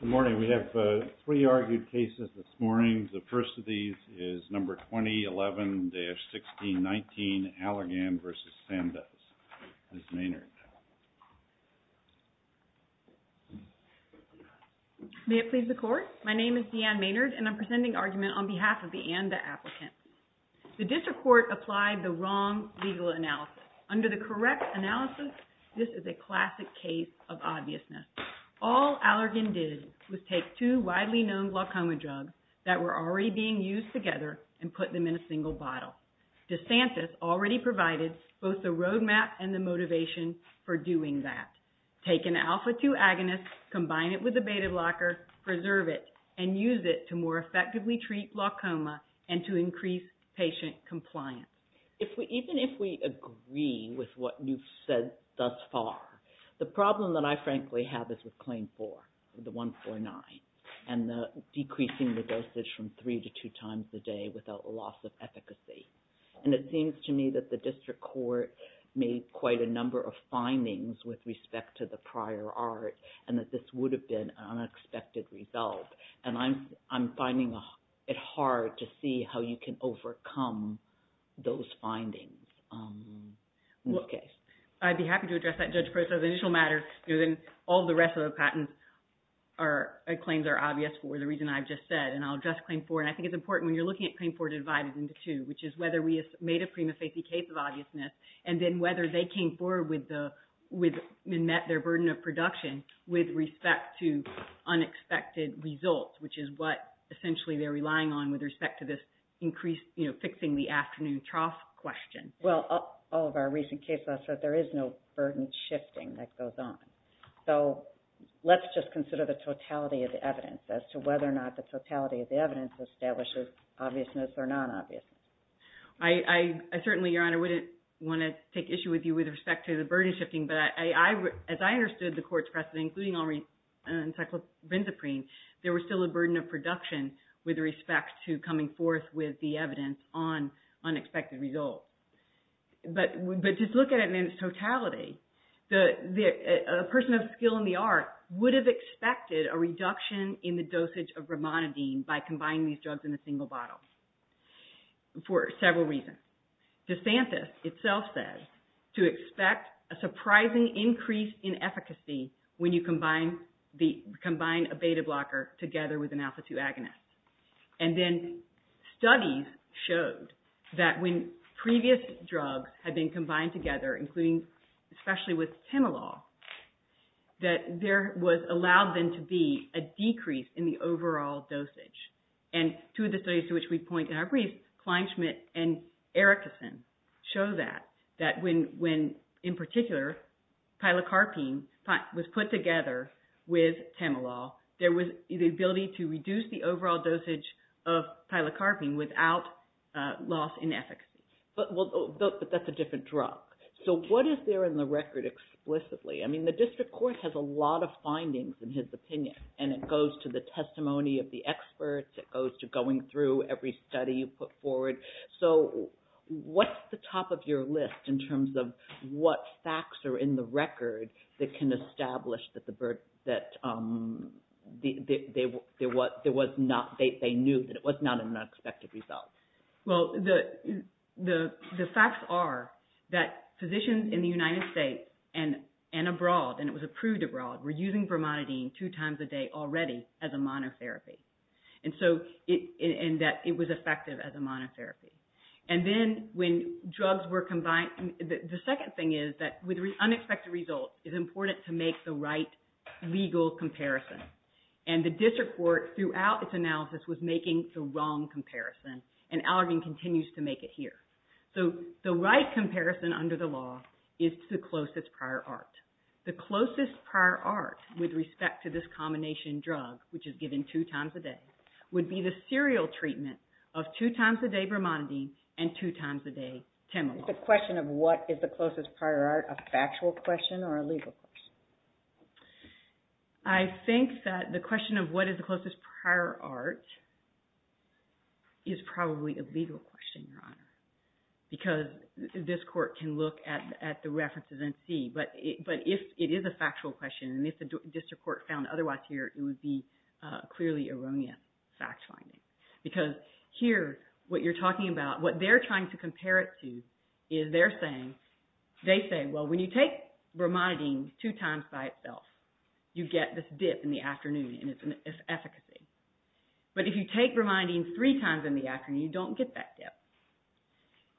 Good morning. We have three argued cases this morning. The first of these is number 2011-1619 ALLERGAN v. SANDOZ. Ms. Maynard. May it please the court. My name is Deanne Maynard and I'm presenting argument on behalf of the ANDA applicant. The district court applied the wrong legal analysis. Under the correct analysis, this is a classic case of all Allergan did was take two widely known glaucoma drugs that were already being used together and put them in a single bottle. DeSantis already provided both the roadmap and the motivation for doing that. Take an alpha 2 agonist, combine it with a beta blocker, preserve it, and use it to more effectively treat glaucoma and to increase patient compliance. Even if we agree with what you've said thus far, the problem that I frankly have is with claim four, the 149, and decreasing the dosage from three to two times a day without loss of efficacy. And it seems to me that the district court made quite a number of findings with respect to the prior art and that this would have been an unexpected result. And I'm finding it hard to see how you can overcome those findings. Okay. I'd be happy to address that, Judge Proctor. The initial matter, all the rest of the patents are claims are obvious for the reason I've just said. And I'll address claim four. And I think it's important when you're looking at claim four divided into two, which is whether we made a prima facie case of obviousness and then whether they came forward and met their burden of production with respect to fixing the afternoon trough question. Well, all of our recent cases, I said there is no burden shifting that goes on. So let's just consider the totality of the evidence as to whether or not the totality of the evidence establishes obviousness or non-obviousness. I certainly, Your Honor, wouldn't want to take issue with you with respect to the burden shifting. But as I understood the court's precedent, including encyclopendaprene, there was still burden of production with respect to coming forth with the evidence on unexpected results. But just look at it in its totality. A person of skill in the art would have expected a reduction in the dosage of bramonidine by combining these drugs in a single bottle for several reasons. DeSantis itself said to expect a surprising increase in efficacy when you combine a beta blocker together with an alpha-2 agonist. And then studies showed that when previous drugs had been combined together, including especially with temelol, that there was allowed then to be a decrease in the overall dosage. And two of the studies to which we point in our brief, Kleinschmidt and Erickson, show that. That when, in particular, pilocarpine was put together with temelol, there was the ability to reduce the overall dosage of pilocarpine without loss in efficacy. But that's a different drug. So what is there in the record explicitly? I mean, the district court has a lot of findings in his opinion. And it goes to the testimony of the experts. It goes to going through every study you put forward. So what's the top of your list in terms of what facts are in the record that can establish that they knew that it was not an unexpected result? Well, the facts are that physicians in the United States and abroad, and it was approved abroad, were using bromonidine two times a day already as a monotherapy. And that it was effective as a monotherapy. And then when drugs were combined, the second thing is that with unexpected results, it's important to make the right legal comparison. And the district court, throughout its analysis, was making the wrong comparison. And Allergan continues to make it here. So the right comparison under the law is to the closest prior art. The closest prior art with respect to this combination drug, which is given two times a day, would be the serial treatment of two times a day bromonidine and two times a day Temelol. Is the question of what is the closest prior art a factual question or a legal question? I think that the question of what is the closest prior art is probably a legal question, Your Honor. Because this court can look at the factual question, and if the district court found otherwise here, it would be clearly erroneous fact finding. Because here, what you're talking about, what they're trying to compare it to is they're saying, they say, well, when you take bromonidine two times by itself, you get this dip in the afternoon, and it's efficacy. But if you take bromonidine three times in the afternoon, you don't get that dip.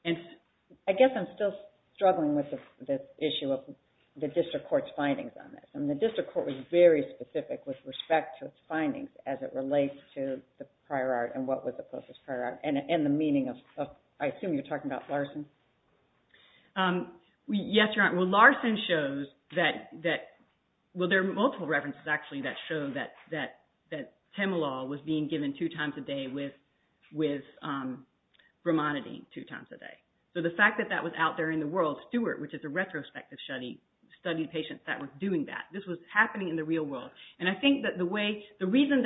And I guess I'm still struggling with the issue of the district court's findings, and the district court was very specific with respect to its findings as it relates to the prior art and what was the closest prior art, and the meaning of, I assume you're talking about Larson? Yes, Your Honor. Well, Larson shows that, well, there are multiple references, actually, that show that Temelol was being given two times a day with bromonidine two times a day. So the fact that that was out there in the world, Stuart, which is a retrospective study, studied patients that were doing that. This was happening in the real world. And I think that one of the reasons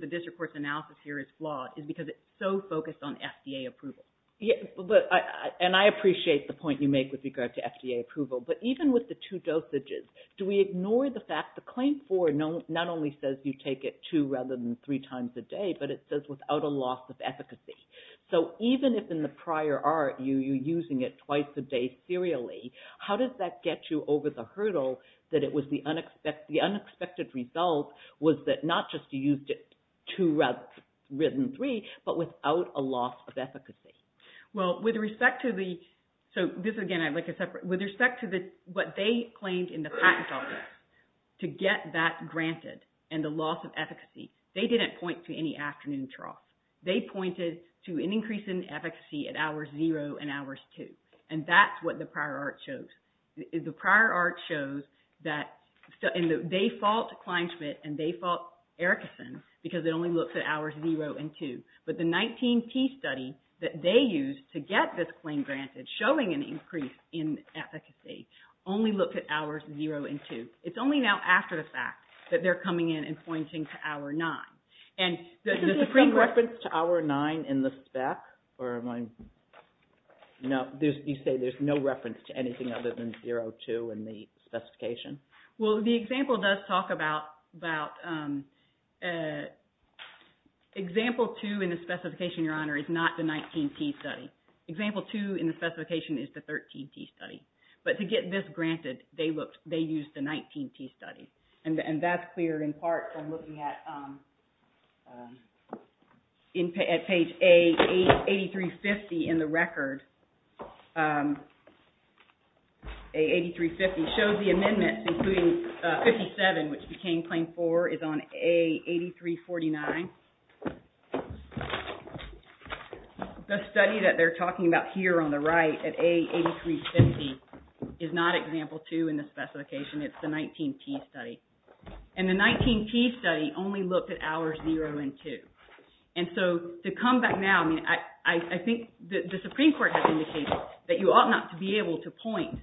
the district court's analysis here is flawed is because it's so focused on FDA approval. And I appreciate the point you make with regard to FDA approval, but even with the two dosages, do we ignore the fact the claim for not only says you take it two rather than three times a day, but it says without a loss of efficacy. So even if in the prior art you're using it twice a day serially, how does that get you over the hurdle that the unexpected result was that not just you used it two rather than three, but without a loss of efficacy? Well, with respect to what they claimed in the patent office to get that granted and the loss of efficacy, they didn't point to any afternoon trough. They pointed to an increase in efficacy at hours zero and hours two. And that's what the prior art shows. The prior art shows that they fault Kleinschmidt and they fault Erickson because it only looks at hours zero and two. But the 19T study that they used to get this claim granted showing an increase in efficacy only looked at hours zero and two. It's only now after the fact that they're coming in and pointing to hour nine. And the supreme reference to hour nine in the spec or am I? No, you say there's no reference to anything other than zero, two in the specification. Well, the example does talk about example two in the specification, Your Honor, is not the 19T study. Example two in the specification is the 13T study. But to get this granted, they used the 19T study. And that's cleared in part from looking at page A8350 in the record. A8350 shows the amendments including 57 which became claim four is on A8349. The study that they're talking about here on the right at A8350 is not example two in the specification. It's the 19T study. And the 19T study only looked at hours zero and two. And so to come back now, I mean, I think the Supreme Court has indicated that you ought not to be able to point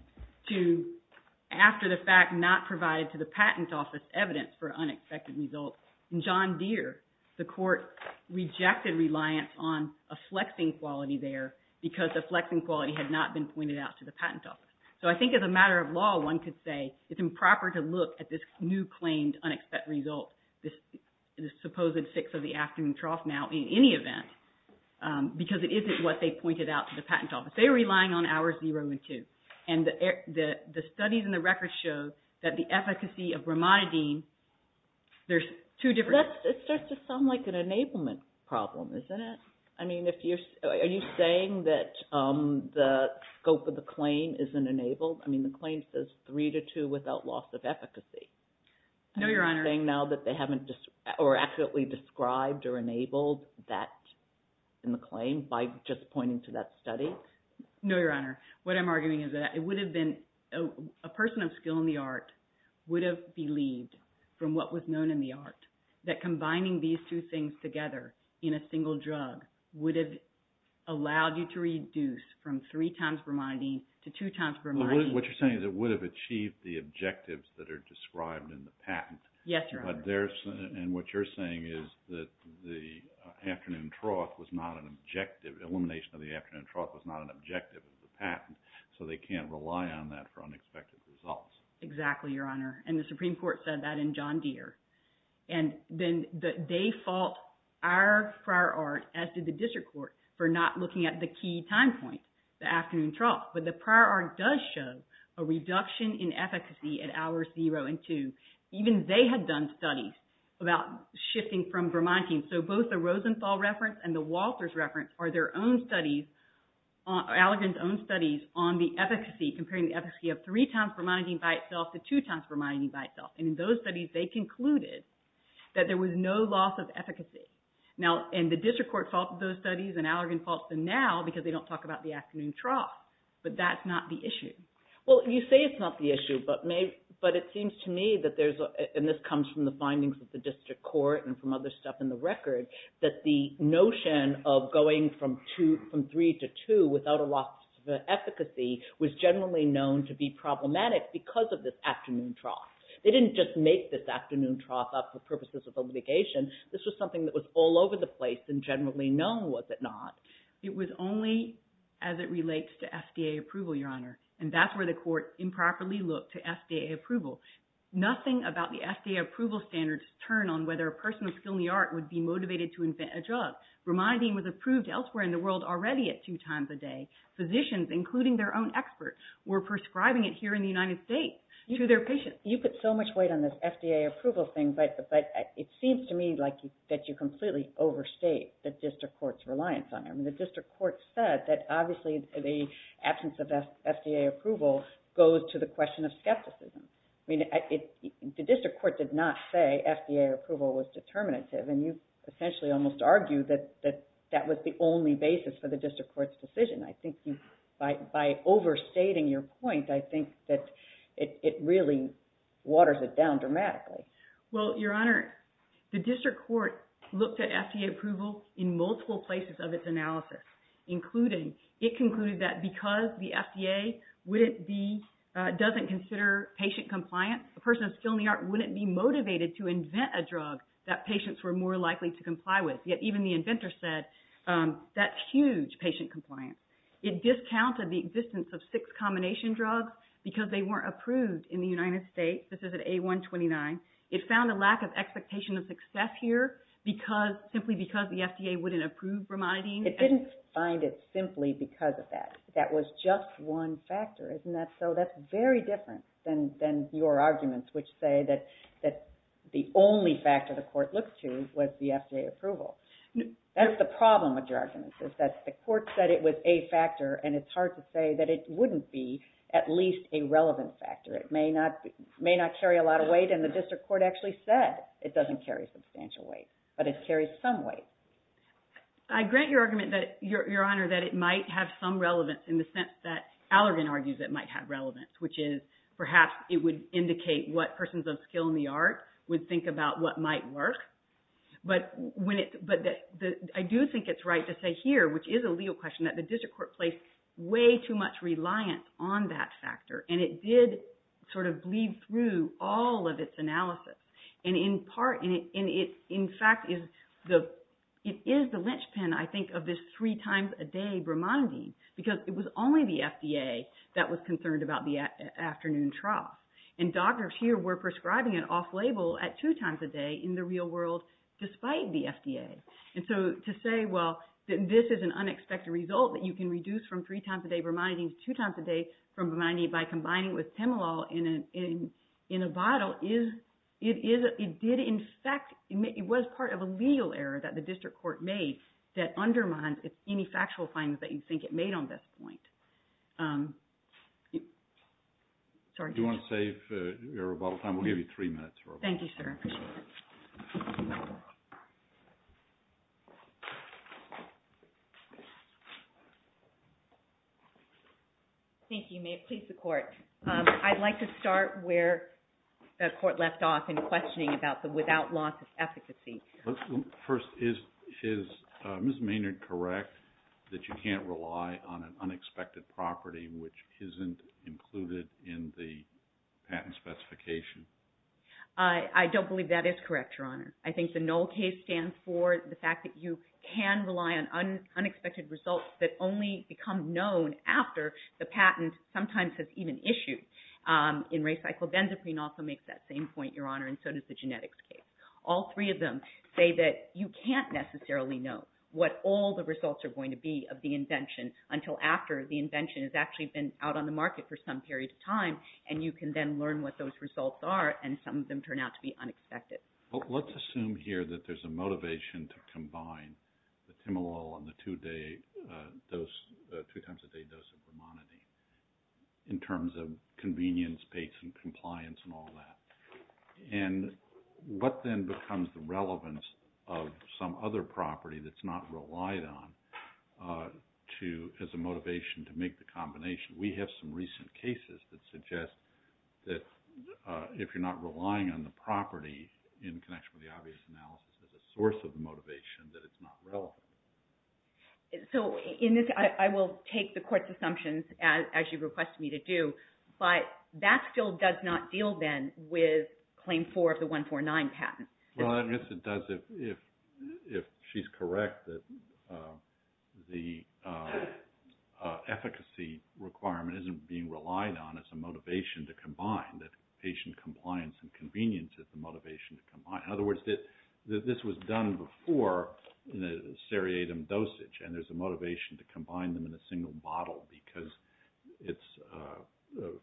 to after the fact not provided to the patent office evidence for unexpected results. In John Deere, the court rejected reliance on a flexing quality there because the flexing quality had not been pointed out to the patent office. So I think as a matter of law, one could say it's improper to look at this new claimed unexpected result, this supposed six of the afternoon trough now in any event, because it isn't what they pointed out to the patent office. They're relying on hours zero and two. And the studies in the record show that the efficacy of bromonidine, there's two different... It starts to sound like an enablement problem, isn't it? I mean, are you saying that the scope of the claim isn't enabled? I mean, the claim says three to two without loss of efficacy. No, Your Honor. Are you saying now that they haven't accurately described or enabled that in the claim by just pointing to that study? No, Your Honor. What I'm arguing is that it would have been... A person of skill in the art would have believed from what was known in the art that combining these two things together in a single drug would have allowed you to reduce from three times bromidine to two times bromidine. What you're saying is it would have achieved the objectives that are described in the patent. Yes, Your Honor. And what you're saying is that the afternoon trough was not an objective, elimination of the afternoon trough was not an objective of the patent, so they can't rely on that for unexpected results. Exactly, Your Honor. And the Supreme Court said that in John Deere. And then they fault our prior art, as did the district court, for not looking at the key time point, the afternoon trough. But the prior art does show a reduction in efficacy at hours zero and two. Even they had done studies about shifting from bromidine. So both the Rosenthal reference and the Walters reference are their own studies, Allergan's own studies on the efficacy, comparing the efficacy of three times bromidine by itself to two times bromidine by itself. And in those studies, they concluded that there was no loss of efficacy. Now, and the district court faulted those studies and Allergan faults them now because they don't talk about the afternoon trough. But that's not the issue. Well, you say it's not the issue, but it seems to me that there's, and this comes from the findings of the district court and from other stuff in the record, that the notion of going from three to two without a loss of efficacy was generally known to be problematic because of this afternoon trough. They didn't just make this afternoon trough up for purposes of obligation. This was something that was all over the place and generally known, was it not? It was only as it relates to FDA approval, Your Honor. And that's where the court improperly looked to FDA approval. Nothing about the FDA approval standards turn on whether a person of skill in the art would be motivated to invent a drug. Bromidine was approved elsewhere in the world already at two times a day. Physicians, including their own experts, were prescribing it here in the United States to their patients. You put so much weight on this FDA approval thing, but it seems to me like that you completely overstate the district court's reliance on it. I mean, the district court said that, obviously, the absence of FDA approval goes to the question of skepticism. I mean, the district court did not say FDA approval was determinative. And you essentially almost argue that that was the only basis for the district court's decision. I think by overstating your point, I think that it really waters it down dramatically. Well, Your Honor, the district court looked at FDA approval in multiple places of its analysis. It concluded that because the FDA doesn't consider patient compliance, a person of skill in the art wouldn't be motivated to invent a drug that patients were more likely to comply with. Yet even the inventor said that's huge patient compliance. It discounted the existence of six combination drugs because they weren't approved in the United States. This is at A129. It found a lack of expectation of success here simply because the FDA wouldn't approve bromidine. It didn't find it simply because of that. That was just one factor. Isn't that so? That's very different than your arguments, which say that the only factor the court looked to was the FDA approval. That's the problem with your arguments, is that the court said it was a factor, and it's hard to say that it wouldn't be at least a relevant factor. It may not carry a lot of weight, and the district court actually said it doesn't carry substantial weight, but it carries some weight. I grant your argument, Your Honor, that it might have some relevance in the sense that Allergan argues it might have relevance, which is perhaps it would indicate what persons of skill in the art would think about what might work. I do think it's right to say here, which is a legal question, that the district court placed way too much reliance on that factor, and it did sort of bleed through all of its analysis. In fact, it is the linchpin, I think, of this three times a day bromidine because it was only the FDA that was concerned about the afternoon trough, and doctors here were prescribing it off-label at two times a day in the real world despite the FDA. And so to say, well, this is an unexpected result that you can reduce from three times a day bromidine to two times a day from bromidine by combining with Temelol in a bottle, it did, in fact, it was part of a legal error that the district court made that undermined any factual findings that you think it made on this point. Do you want to save your rebuttal time? We'll give you three minutes. Thank you, sir. Thank you. May it please the court. I'd like to start where the court left off in questioning about the without loss of efficacy. First, is Ms. Maynard correct that you can't rely on an unexpected property which isn't included in the patent specification? I don't believe that is correct, Your Honor. I think the null case stands for the fact that you can rely on unexpected results that only become known after the patent sometimes has even issued. In recycled benzaprine also makes that same point, Your Honor, and so does the genetics case. All three of them say that you can't necessarily know what all the results are going to be of the invention until after the invention has actually been out on the market for some period of time and you can then learn what those results are and some of them turn out to be unexpected. Let's assume here that there's a motivation to combine the Temelol on the two times a day dose of bromidine in terms of convenience, pace, and compliance and all that. And what then becomes the relevance of some other property that's not relied on as a motivation to make the combination? We have some recent cases that suggest that if you're not relying on the property in connection with the obvious analysis as a source of the motivation, that it's not relevant. So in this, I will take the court's assumptions as you request me to do, but that still does not deal then with Claim 4 of the 149 patent. Well, I guess it does if she's correct that the efficacy requirement isn't being relied on as a motivation to combine, that patient compliance and convenience is the motivation to combine. In other words, this was done before in a seriatim dosage and there's a motivation to combine them in a single bottle because it's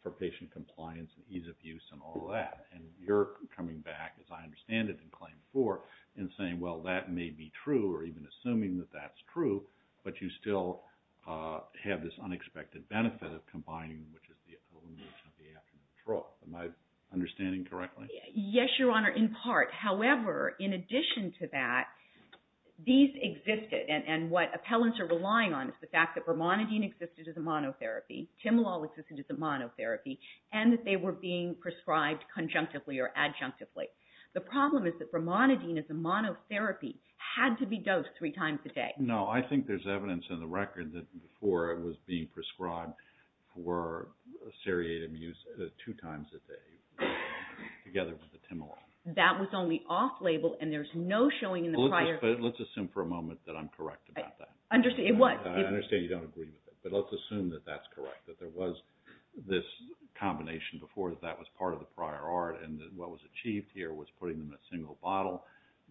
for patient compliance and ease of use and all that. And you're coming back, as I understand it, in Claim 4 and saying, well, that may be true or even assuming that that's true, but you still have this unexpected benefit of combining, which is the elimination of the aftermath drug. Am I understanding correctly? Yes, Your Honor, in part. However, in addition to that, these existed and what appellants are relying on is the fact that vermonidine existed as a monotherapy, Timolol existed as a monotherapy, and that they were being prescribed conjunctively or adjunctively. The problem is that vermonidine as a monotherapy had to be dosed three times a day. No, I think there's evidence in the record that before it was being prescribed for seriatim use two times a day together with the Timolol. That was only off-label and there's no showing in the prior... But let's assume for a moment that I'm correct about that. I understand you don't agree with it, but let's assume that that's correct, that there was this combination before that was part of the prior art and what was achieved here was putting them in a single bottle,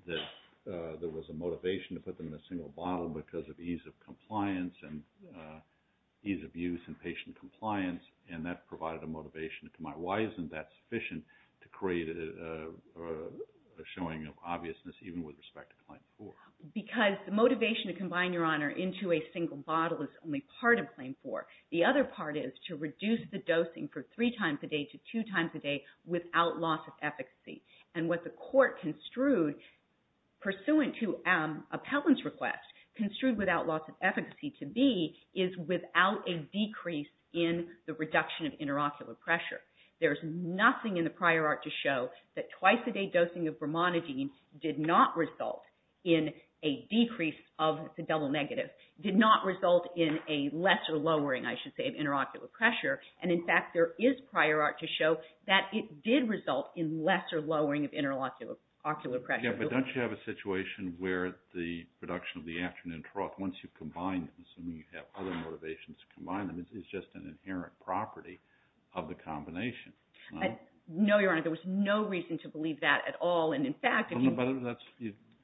that there was a motivation to put them in a single bottle because of ease of compliance and ease of use and patient compliance, and that provided a motivation to combine. Why isn't that sufficient to create a showing of obviousness even with respect to Claim 4? Because the motivation to combine your honor into a single bottle is only part of Claim 4. The other part is to reduce the dosing for three times a day to two times a day without loss of efficacy. And what the court construed pursuant to appellant's request, construed without loss of efficacy to be, is without a decrease in the reduction of interocular pressure. There's nothing in the prior art to show that twice a day dosing of vermonidine did not result in a decrease of the double negative, did not result in a lesser lowering, I should say, of interocular pressure. And in fact, there is prior art to show that it did result in lesser lowering of interocular pressure. Yeah, but don't you have a situation where the production of the afternoon trough, once you combine them, assuming you have other motivations to combine them, is just an inherent property of the combination. No, your honor, there was no reason to believe that at all. That's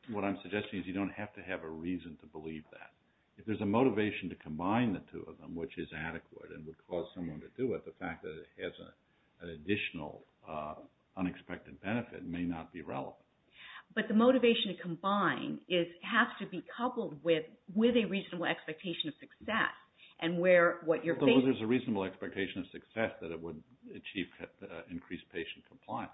what I'm suggesting is you don't have to have a reason to believe that. If there's a motivation to combine the two of them, which is adequate and would cause someone to do it, the fact that it has an additional unexpected benefit may not be relevant. But the motivation to combine has to be coupled with a reasonable expectation of success. There's a reasonable expectation of success that it would achieve increased patient compliance.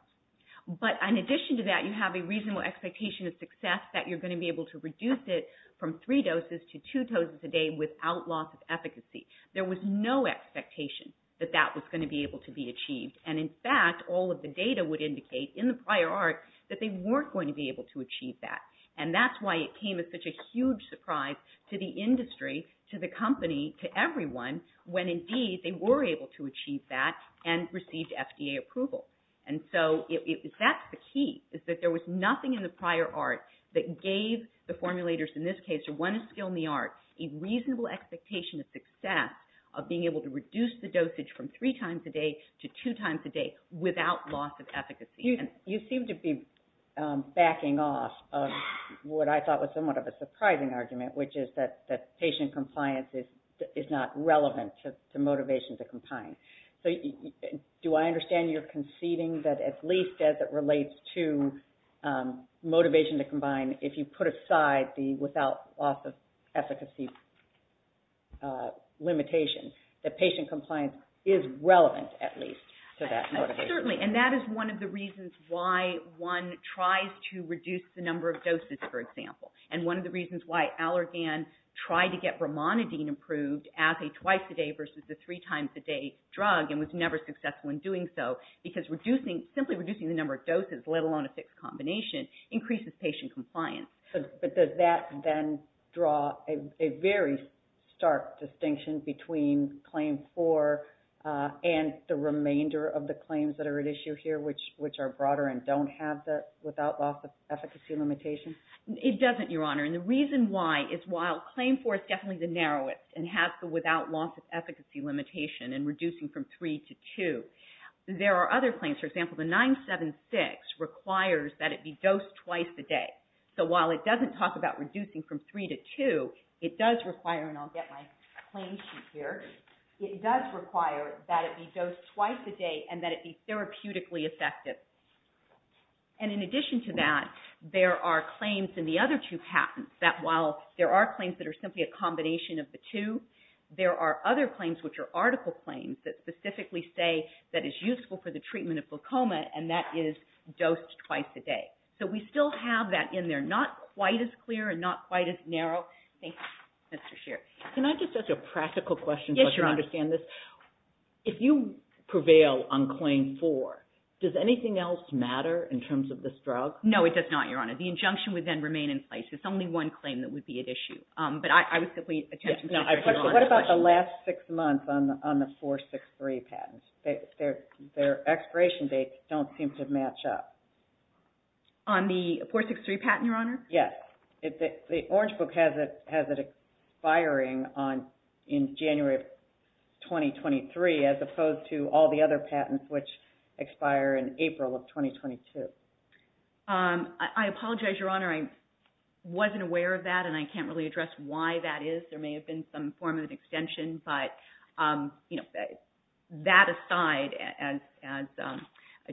But in addition to that, you have a reasonable expectation of success that you're going to be able to reduce it from three doses to two doses a day without loss of efficacy. There was no expectation that that was going to be able to be achieved. And in fact, all of the data would indicate in the prior art that they weren't going to be able to achieve that. And that's why it came as such a huge surprise to the industry, to the company, to everyone, when indeed they were able to achieve that and received FDA approval. And so that's the key, is that there was nothing in the prior art that gave the formulators, in this case, or one is skilled in the art, a reasonable expectation of success of being able to reduce the dosage from three times a day to two times a day without loss of efficacy. You seem to be backing off of what I thought was somewhat of a surprising argument, which is that patient compliance is not relevant to motivation to combine. So do I understand you're conceding that at least as it relates to motivation to combine, if you put aside the without loss of efficacy limitation, that patient compliance is relevant at least to that motivation? Certainly. And that is one of the reasons why one tries to reduce the number of doses, for example. And one of the reasons why Allergan tried to get bromonidine approved as a twice-a-day versus a three-times-a-day drug and was never successful in doing so, because simply reducing the number of doses, let alone a fixed combination, increases patient compliance. But does that then draw a very stark distinction between Claim 4 and the remainder of the claims that are at issue here, which are broader and don't have the without loss of efficacy limitation? It doesn't, Your Honor. And the reason why is while Claim 4 is definitely the narrowest and has the without loss of efficacy limitation and reducing from three to two, there are other claims. For example, the 976 requires that it be dosed twice a day. So while it doesn't talk about reducing from three to two, it does require, and I'll get my claim sheet here, it does require that it be dosed twice a day and that it be therapeutically effective. And in addition to that, there are claims in the other two patents that while there are claims that are simply a combination of the two, there are other claims which are article claims that specifically say that it's useful for the treatment of glaucoma, and that is dosed twice a day. So we still have that in there. Not quite as clear and not quite as narrow. Thank you, Mr. Scheer. Can I just ask a practical question so I can understand this? Yes, Your Honor. If you prevail on Claim 4, does anything else matter in terms of this drug? No, it does not, Your Honor. The injunction would then remain in place. It's only one claim that would be at issue. But I would simply attempt to answer your question. What about the last six months on the 463 patents? Their expiration dates don't seem to match up. On the 463 patent, Your Honor? Yes. The Orange Book has it expiring in January of 2023, as opposed to all the other patents which expire in April of 2022. I apologize, Your Honor. I wasn't aware of that, and I can't really address why that is. There may have been some form of an extension. But that aside, as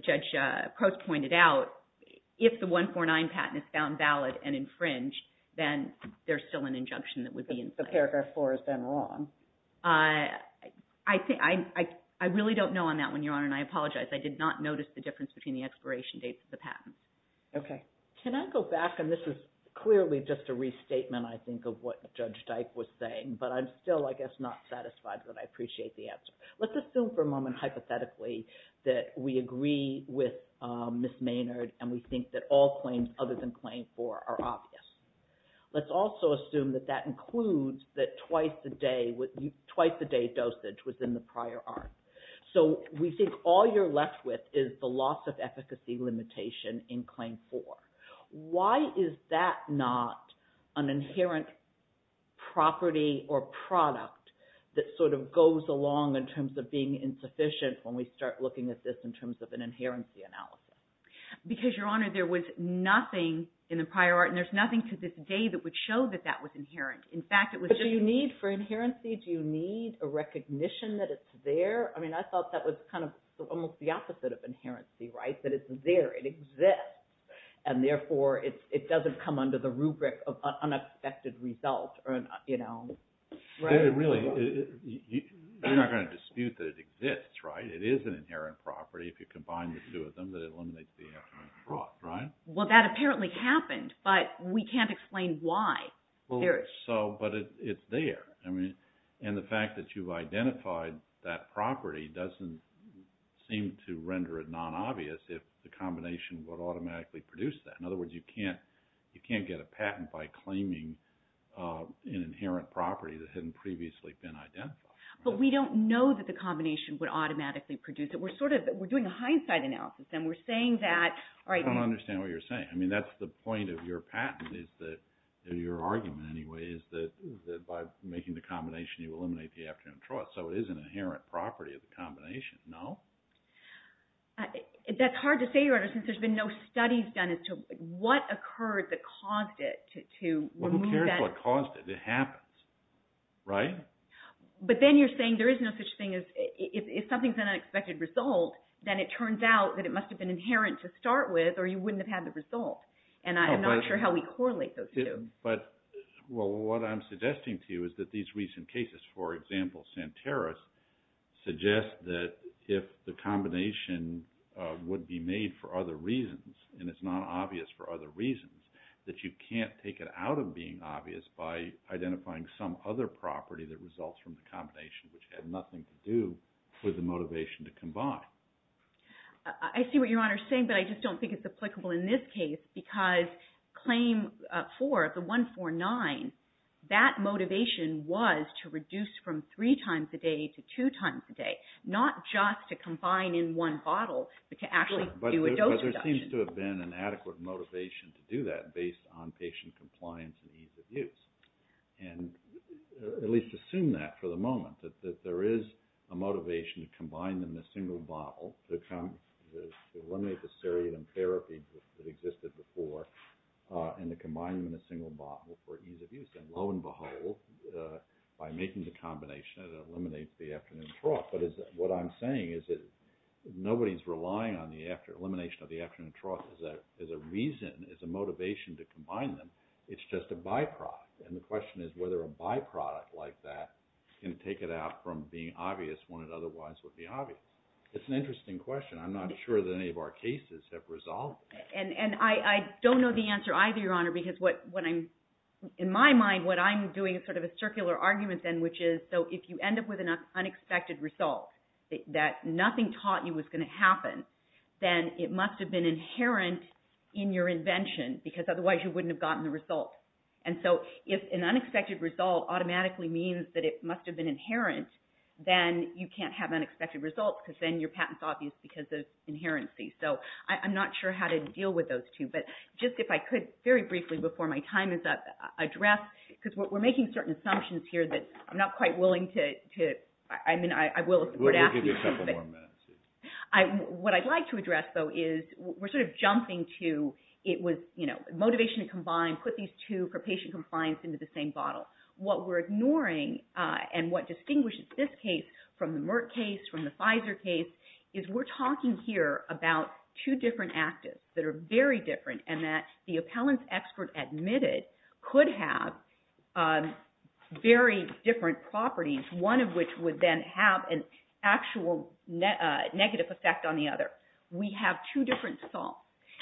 Judge Crote pointed out, if the 149 patent is found valid and infringed, then there's still an injunction that would be in place. But Paragraph 4 is then wrong. I really don't know on that one, Your Honor, and I apologize. I did not notice the difference between the expiration dates of the patents. Okay. Can I go back? And this is clearly just a restatement, I think, of what Judge Dyke was saying. But I'm still, I guess, not satisfied that I appreciate the answer. Let's assume for a moment, hypothetically, that we agree with Ms. Maynard, and we think that all claims other than Claim 4 are obvious. Let's also assume that that includes that twice-a-day dosage was in the prior art. So we think all you're left with is the loss of efficacy limitation in Claim 4. Why is that not an inherent property or product that sort of goes along in terms of being insufficient when we start looking at this in terms of an inherency analysis? Because, Your Honor, there was nothing in the prior art, and there's nothing to this day that would show that that was inherent. In fact, it was just— But do you need, for inherency, do you need a recognition that it's there? I mean, I thought that was kind of almost the opposite of inherency, right? That it's there, it exists. And therefore, it doesn't come under the rubric of unexpected result or, you know— Really, you're not going to dispute that it exists, right? It is an inherent property if you combine the two of them, that it eliminates the inherent fraud, right? Well, that apparently happened, but we can't explain why. Well, so, but it's there. I mean, and the fact that you've identified that property doesn't seem to render it non-obvious if the combination would automatically produce that. In other words, you can't get a patent by claiming an inherent property that hadn't previously been identified. But we don't know that the combination would automatically produce it. We're sort of, we're doing a hindsight analysis, and we're saying that, all right— I don't understand what you're saying. I mean, that's the point of your patent is that, or your argument anyway, is that by making the combination, you eliminate the afternoon fraud. So it is an inherent property of the combination, no? That's hard to say, Your Honor, since there's been no studies done as to what occurred that caused it to remove that— Well, who cares what caused it? It happens, right? But then you're saying there is no such thing as, if something's an unexpected result, then it turns out that it must have been inherent to start with, or you wouldn't have had the result. And I'm not sure how we correlate those two. But, well, what I'm suggesting to you is that these recent cases, for example, Santeros, suggest that if the combination would be made for other reasons, and it's not obvious for other reasons, that you can't take it out of being obvious by identifying some other property that results from the combination, which had nothing to do with the motivation to combine. I see what Your Honor's saying, but I just don't think it's applicable in this case, because Claim 4, the 149, that motivation was to reduce from three times a day to two times a day, not just to combine in one bottle, but to actually do a dose reduction. But there seems to have been an adequate motivation to do that based on patient compliance and ease of use. And at least assume that for the moment, that there is a motivation to combine them in a single bottle to eliminate the serine therapy that existed before, and to combine them in a single bottle for ease of use. And lo and behold, by making the combination, it eliminates the afternoon trough. But what I'm saying is that nobody's relying on the elimination of the afternoon trough as a reason, as a motivation to combine them. It's just a byproduct. And the question is whether a byproduct like that can take it out from being obvious when it otherwise would be obvious. It's an interesting question. I'm not sure that any of our cases have resolved that. And I don't know the answer either, Your Honor, because what I'm, in my mind, what I'm doing is sort of a circular argument then, which is, so if you end up with an unexpected result, that nothing taught you was going to happen, then it must have been inherent in your invention, because otherwise you wouldn't have gotten the result. And so if an unexpected result automatically means that it must have been inherent, then you can't have unexpected results, because then your patent's obvious because of inherency. So I'm not sure how to deal with those two. But just if I could, very briefly, before my time is up, address, because we're making certain assumptions here that I'm not quite willing to, I mean, I will if we're to ask you. We'll give you a couple more minutes. What I'd like to address, though, is we're sort of jumping to, it was, you know, motivation to combine, put these two for patient compliance into the same bottle. What we're ignoring, and what distinguishes this case from the Merck case, from the Pfizer case, is we're talking here about two different actives that are very different, and that the appellant's expert admitted could have very different properties, one of which would then have an actual negative effect on the other. We have two different salts.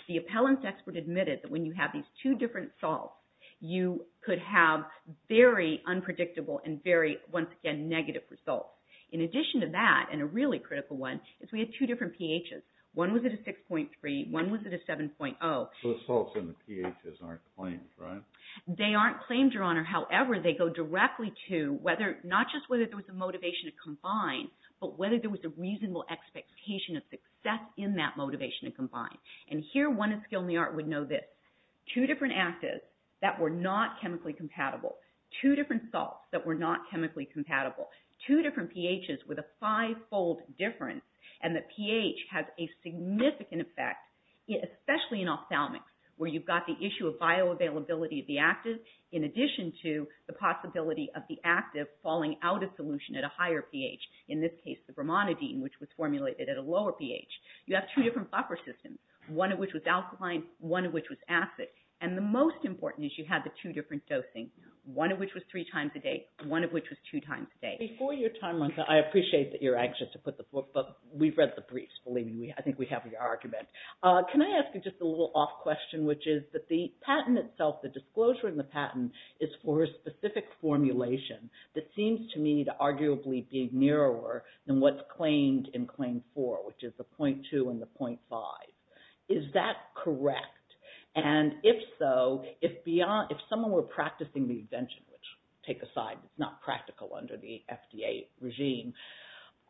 The appellant's expert admitted that when you have these two different salts, you could have very unpredictable and very, once again, negative results. In addition to that, and a really critical one, is we had two different pHs. One was at a 6.3. One was at a 7.0. Those salts in the pHs aren't claimed, right? They aren't claimed, Your Honor. However, they go directly to whether, not just whether there was a motivation to combine, but whether there was a reasonable expectation of success in that motivation to combine. And here, one in skill and the art would know this. Two different actives that were not chemically compatible. Two different salts that were not chemically compatible. Two different pHs with a five-fold difference. And the pH has a significant effect, especially in ophthalmics, where you've got the issue of bioavailability of the active, in addition to the possibility of the active falling out of solution at a higher pH. In this case, the bromonidine, which was formulated at a lower pH. You have two different buffer systems, one of which was alkaline, one of which was acid. And the most important is you have the two different dosing, one of which was three times a day, one of which was two times a day. Before your time runs out, I appreciate that you're anxious to put the book, but we've read the briefs, believe me. I think we have your argument. Can I ask you just a little off question, which is that the patent itself, the disclosure in the patent, is for a specific formulation that seems to me to arguably be narrower than what's claimed in Claim 4, which is the 0.2 and the 0.5. Is that correct? And if so, if someone were practicing the invention, which take aside, it's not practical under the FDA regime,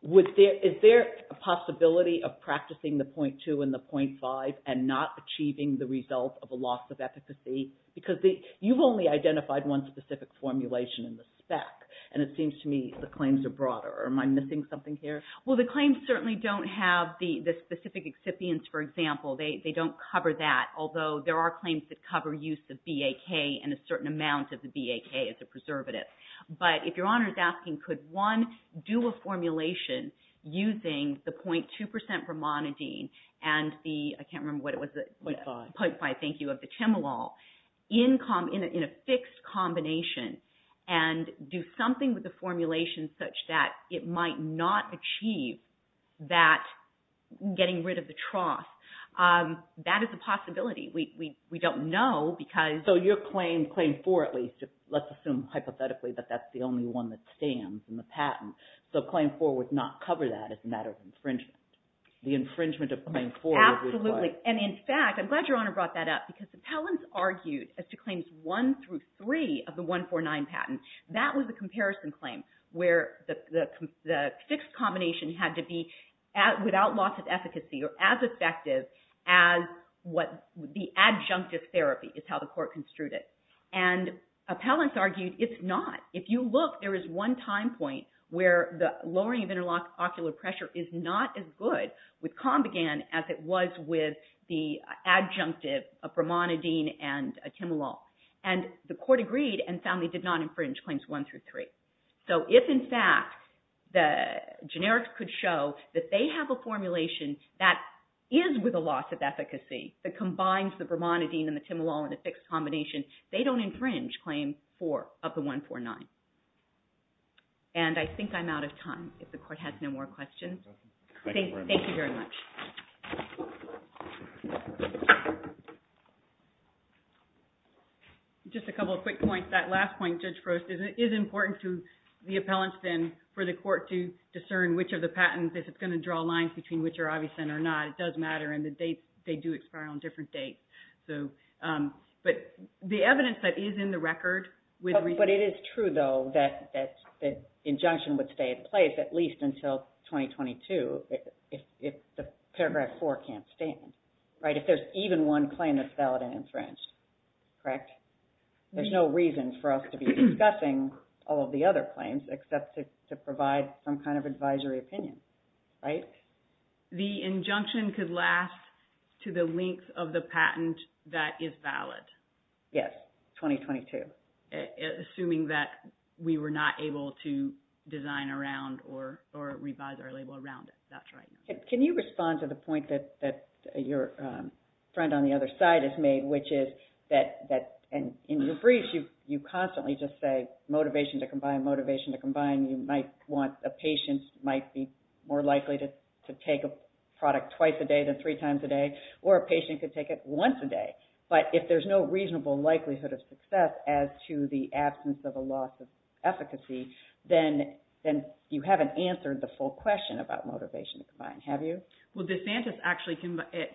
is there a possibility of practicing the 0.2 and the 0.5 and not achieving the result of a loss of efficacy? Because you've only identified one specific formulation in the spec, and it seems to me the claims are broader. Am I missing something here? Well, the claims certainly don't have the specific excipients, for example. They don't cover that, although there are claims that cover use of BAK and a certain amount of the BAK as a preservative. But if Your Honor is asking, could one do a formulation using the 0.2% bromonidine and the, I can't remember what it was. 0.5. 0.5, thank you, of the Timolol in a fixed combination and do something with the formulation such that it might not achieve that getting rid of the trough, that is a possibility. We don't know because... So your claim, Claim 4 at least, let's assume hypothetically that that's the only one that stands in the patent. So Claim 4 would not cover that as a matter of infringement. The infringement of Claim 4 would require... Absolutely. And in fact, I'm glad Your Honor brought that up because appellants argued as to Claims 1 through 3 of the 149 patent, that was a comparison claim where the fixed combination had to be without loss of efficacy or as effective as what the adjunctive therapy is how the court construed it. And appellants argued it's not. If you look, there is one time point where the lowering of interlock ocular pressure is not as good with Combigan as it was with the adjunctive of bromonidine and timolol. And the court agreed and found they did not infringe Claims 1 through 3. So if in fact, the generics could show that they have a formulation that is with a loss of efficacy that combines the bromonidine and the timolol in a fixed combination, they don't infringe Claim 4 of the 149. And I think I'm out of time. If the court has no more questions. Thank you very much. Just a couple of quick points. That last point, Judge Frost, is important to the appellants then for the court to discern which of the patents, if it's going to draw lines between which are obvious and are not. It does matter. And the dates, they do expire on different dates. So, but the evidence that is in the record. But it is true, though, that injunction would stay in place at least until 2022 if the Paragraph 4 can't stand, right? If there's even one claim that's valid and infringed, correct? There's no reason for us to be discussing all of the other claims except to provide some kind of advisory opinion, right? The injunction could last to the length of the patent that is valid. Yes, 2022. Assuming that we were not able to design around or revise our label around it. That's right. Can you respond to the point that your friend on the other side has made, which is that, and in your brief, you constantly just say motivation to combine, motivation to combine. You might want a patient might be more likely to take a product twice a day than three times a day. Or a patient could take it once a day. But if there's no reasonable likelihood of success as to the absence of a loss of efficacy, then you haven't answered the full question about motivation to combine, have you? Well, DeSantis actually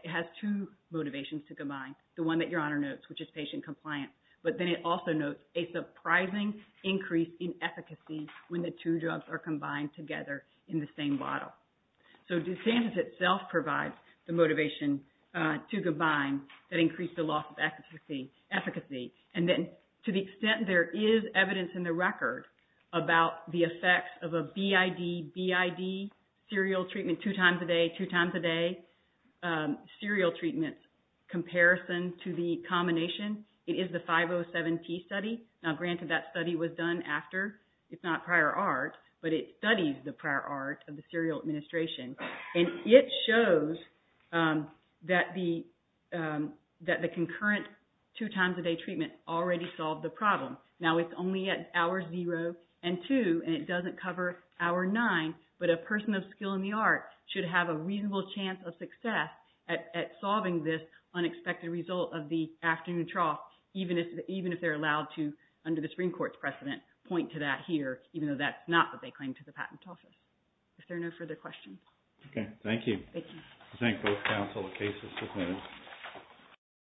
has two motivations to combine. The one that Your Honor notes, which is patient compliance. But then it also notes a surprising increase in efficacy when the two drugs are combined together in the same bottle. So, DeSantis itself provides the motivation to combine that increased the loss of efficacy. And then to the extent there is evidence in the record about the effects of a BID, BID, serial treatment two times a day, two times a day, serial treatment comparison to the combination. It is the 507T study. Now, granted that study was done after. It's not prior art. But it studies the prior art of the serial administration. And it shows that the concurrent two times a day treatment already solved the problem. Now, it's only at hour zero and two. And it doesn't cover hour nine. But a person of skill in the art should have a reasonable chance of success at solving this unexpected result of the afternoon trough, even if they're allowed to, under the Supreme Court's precedent, point to that here, even though that's not what they claim to the patent office. If there are no further questions. Okay. Thank you. Thank you. I thank both counsel. The case is submitted.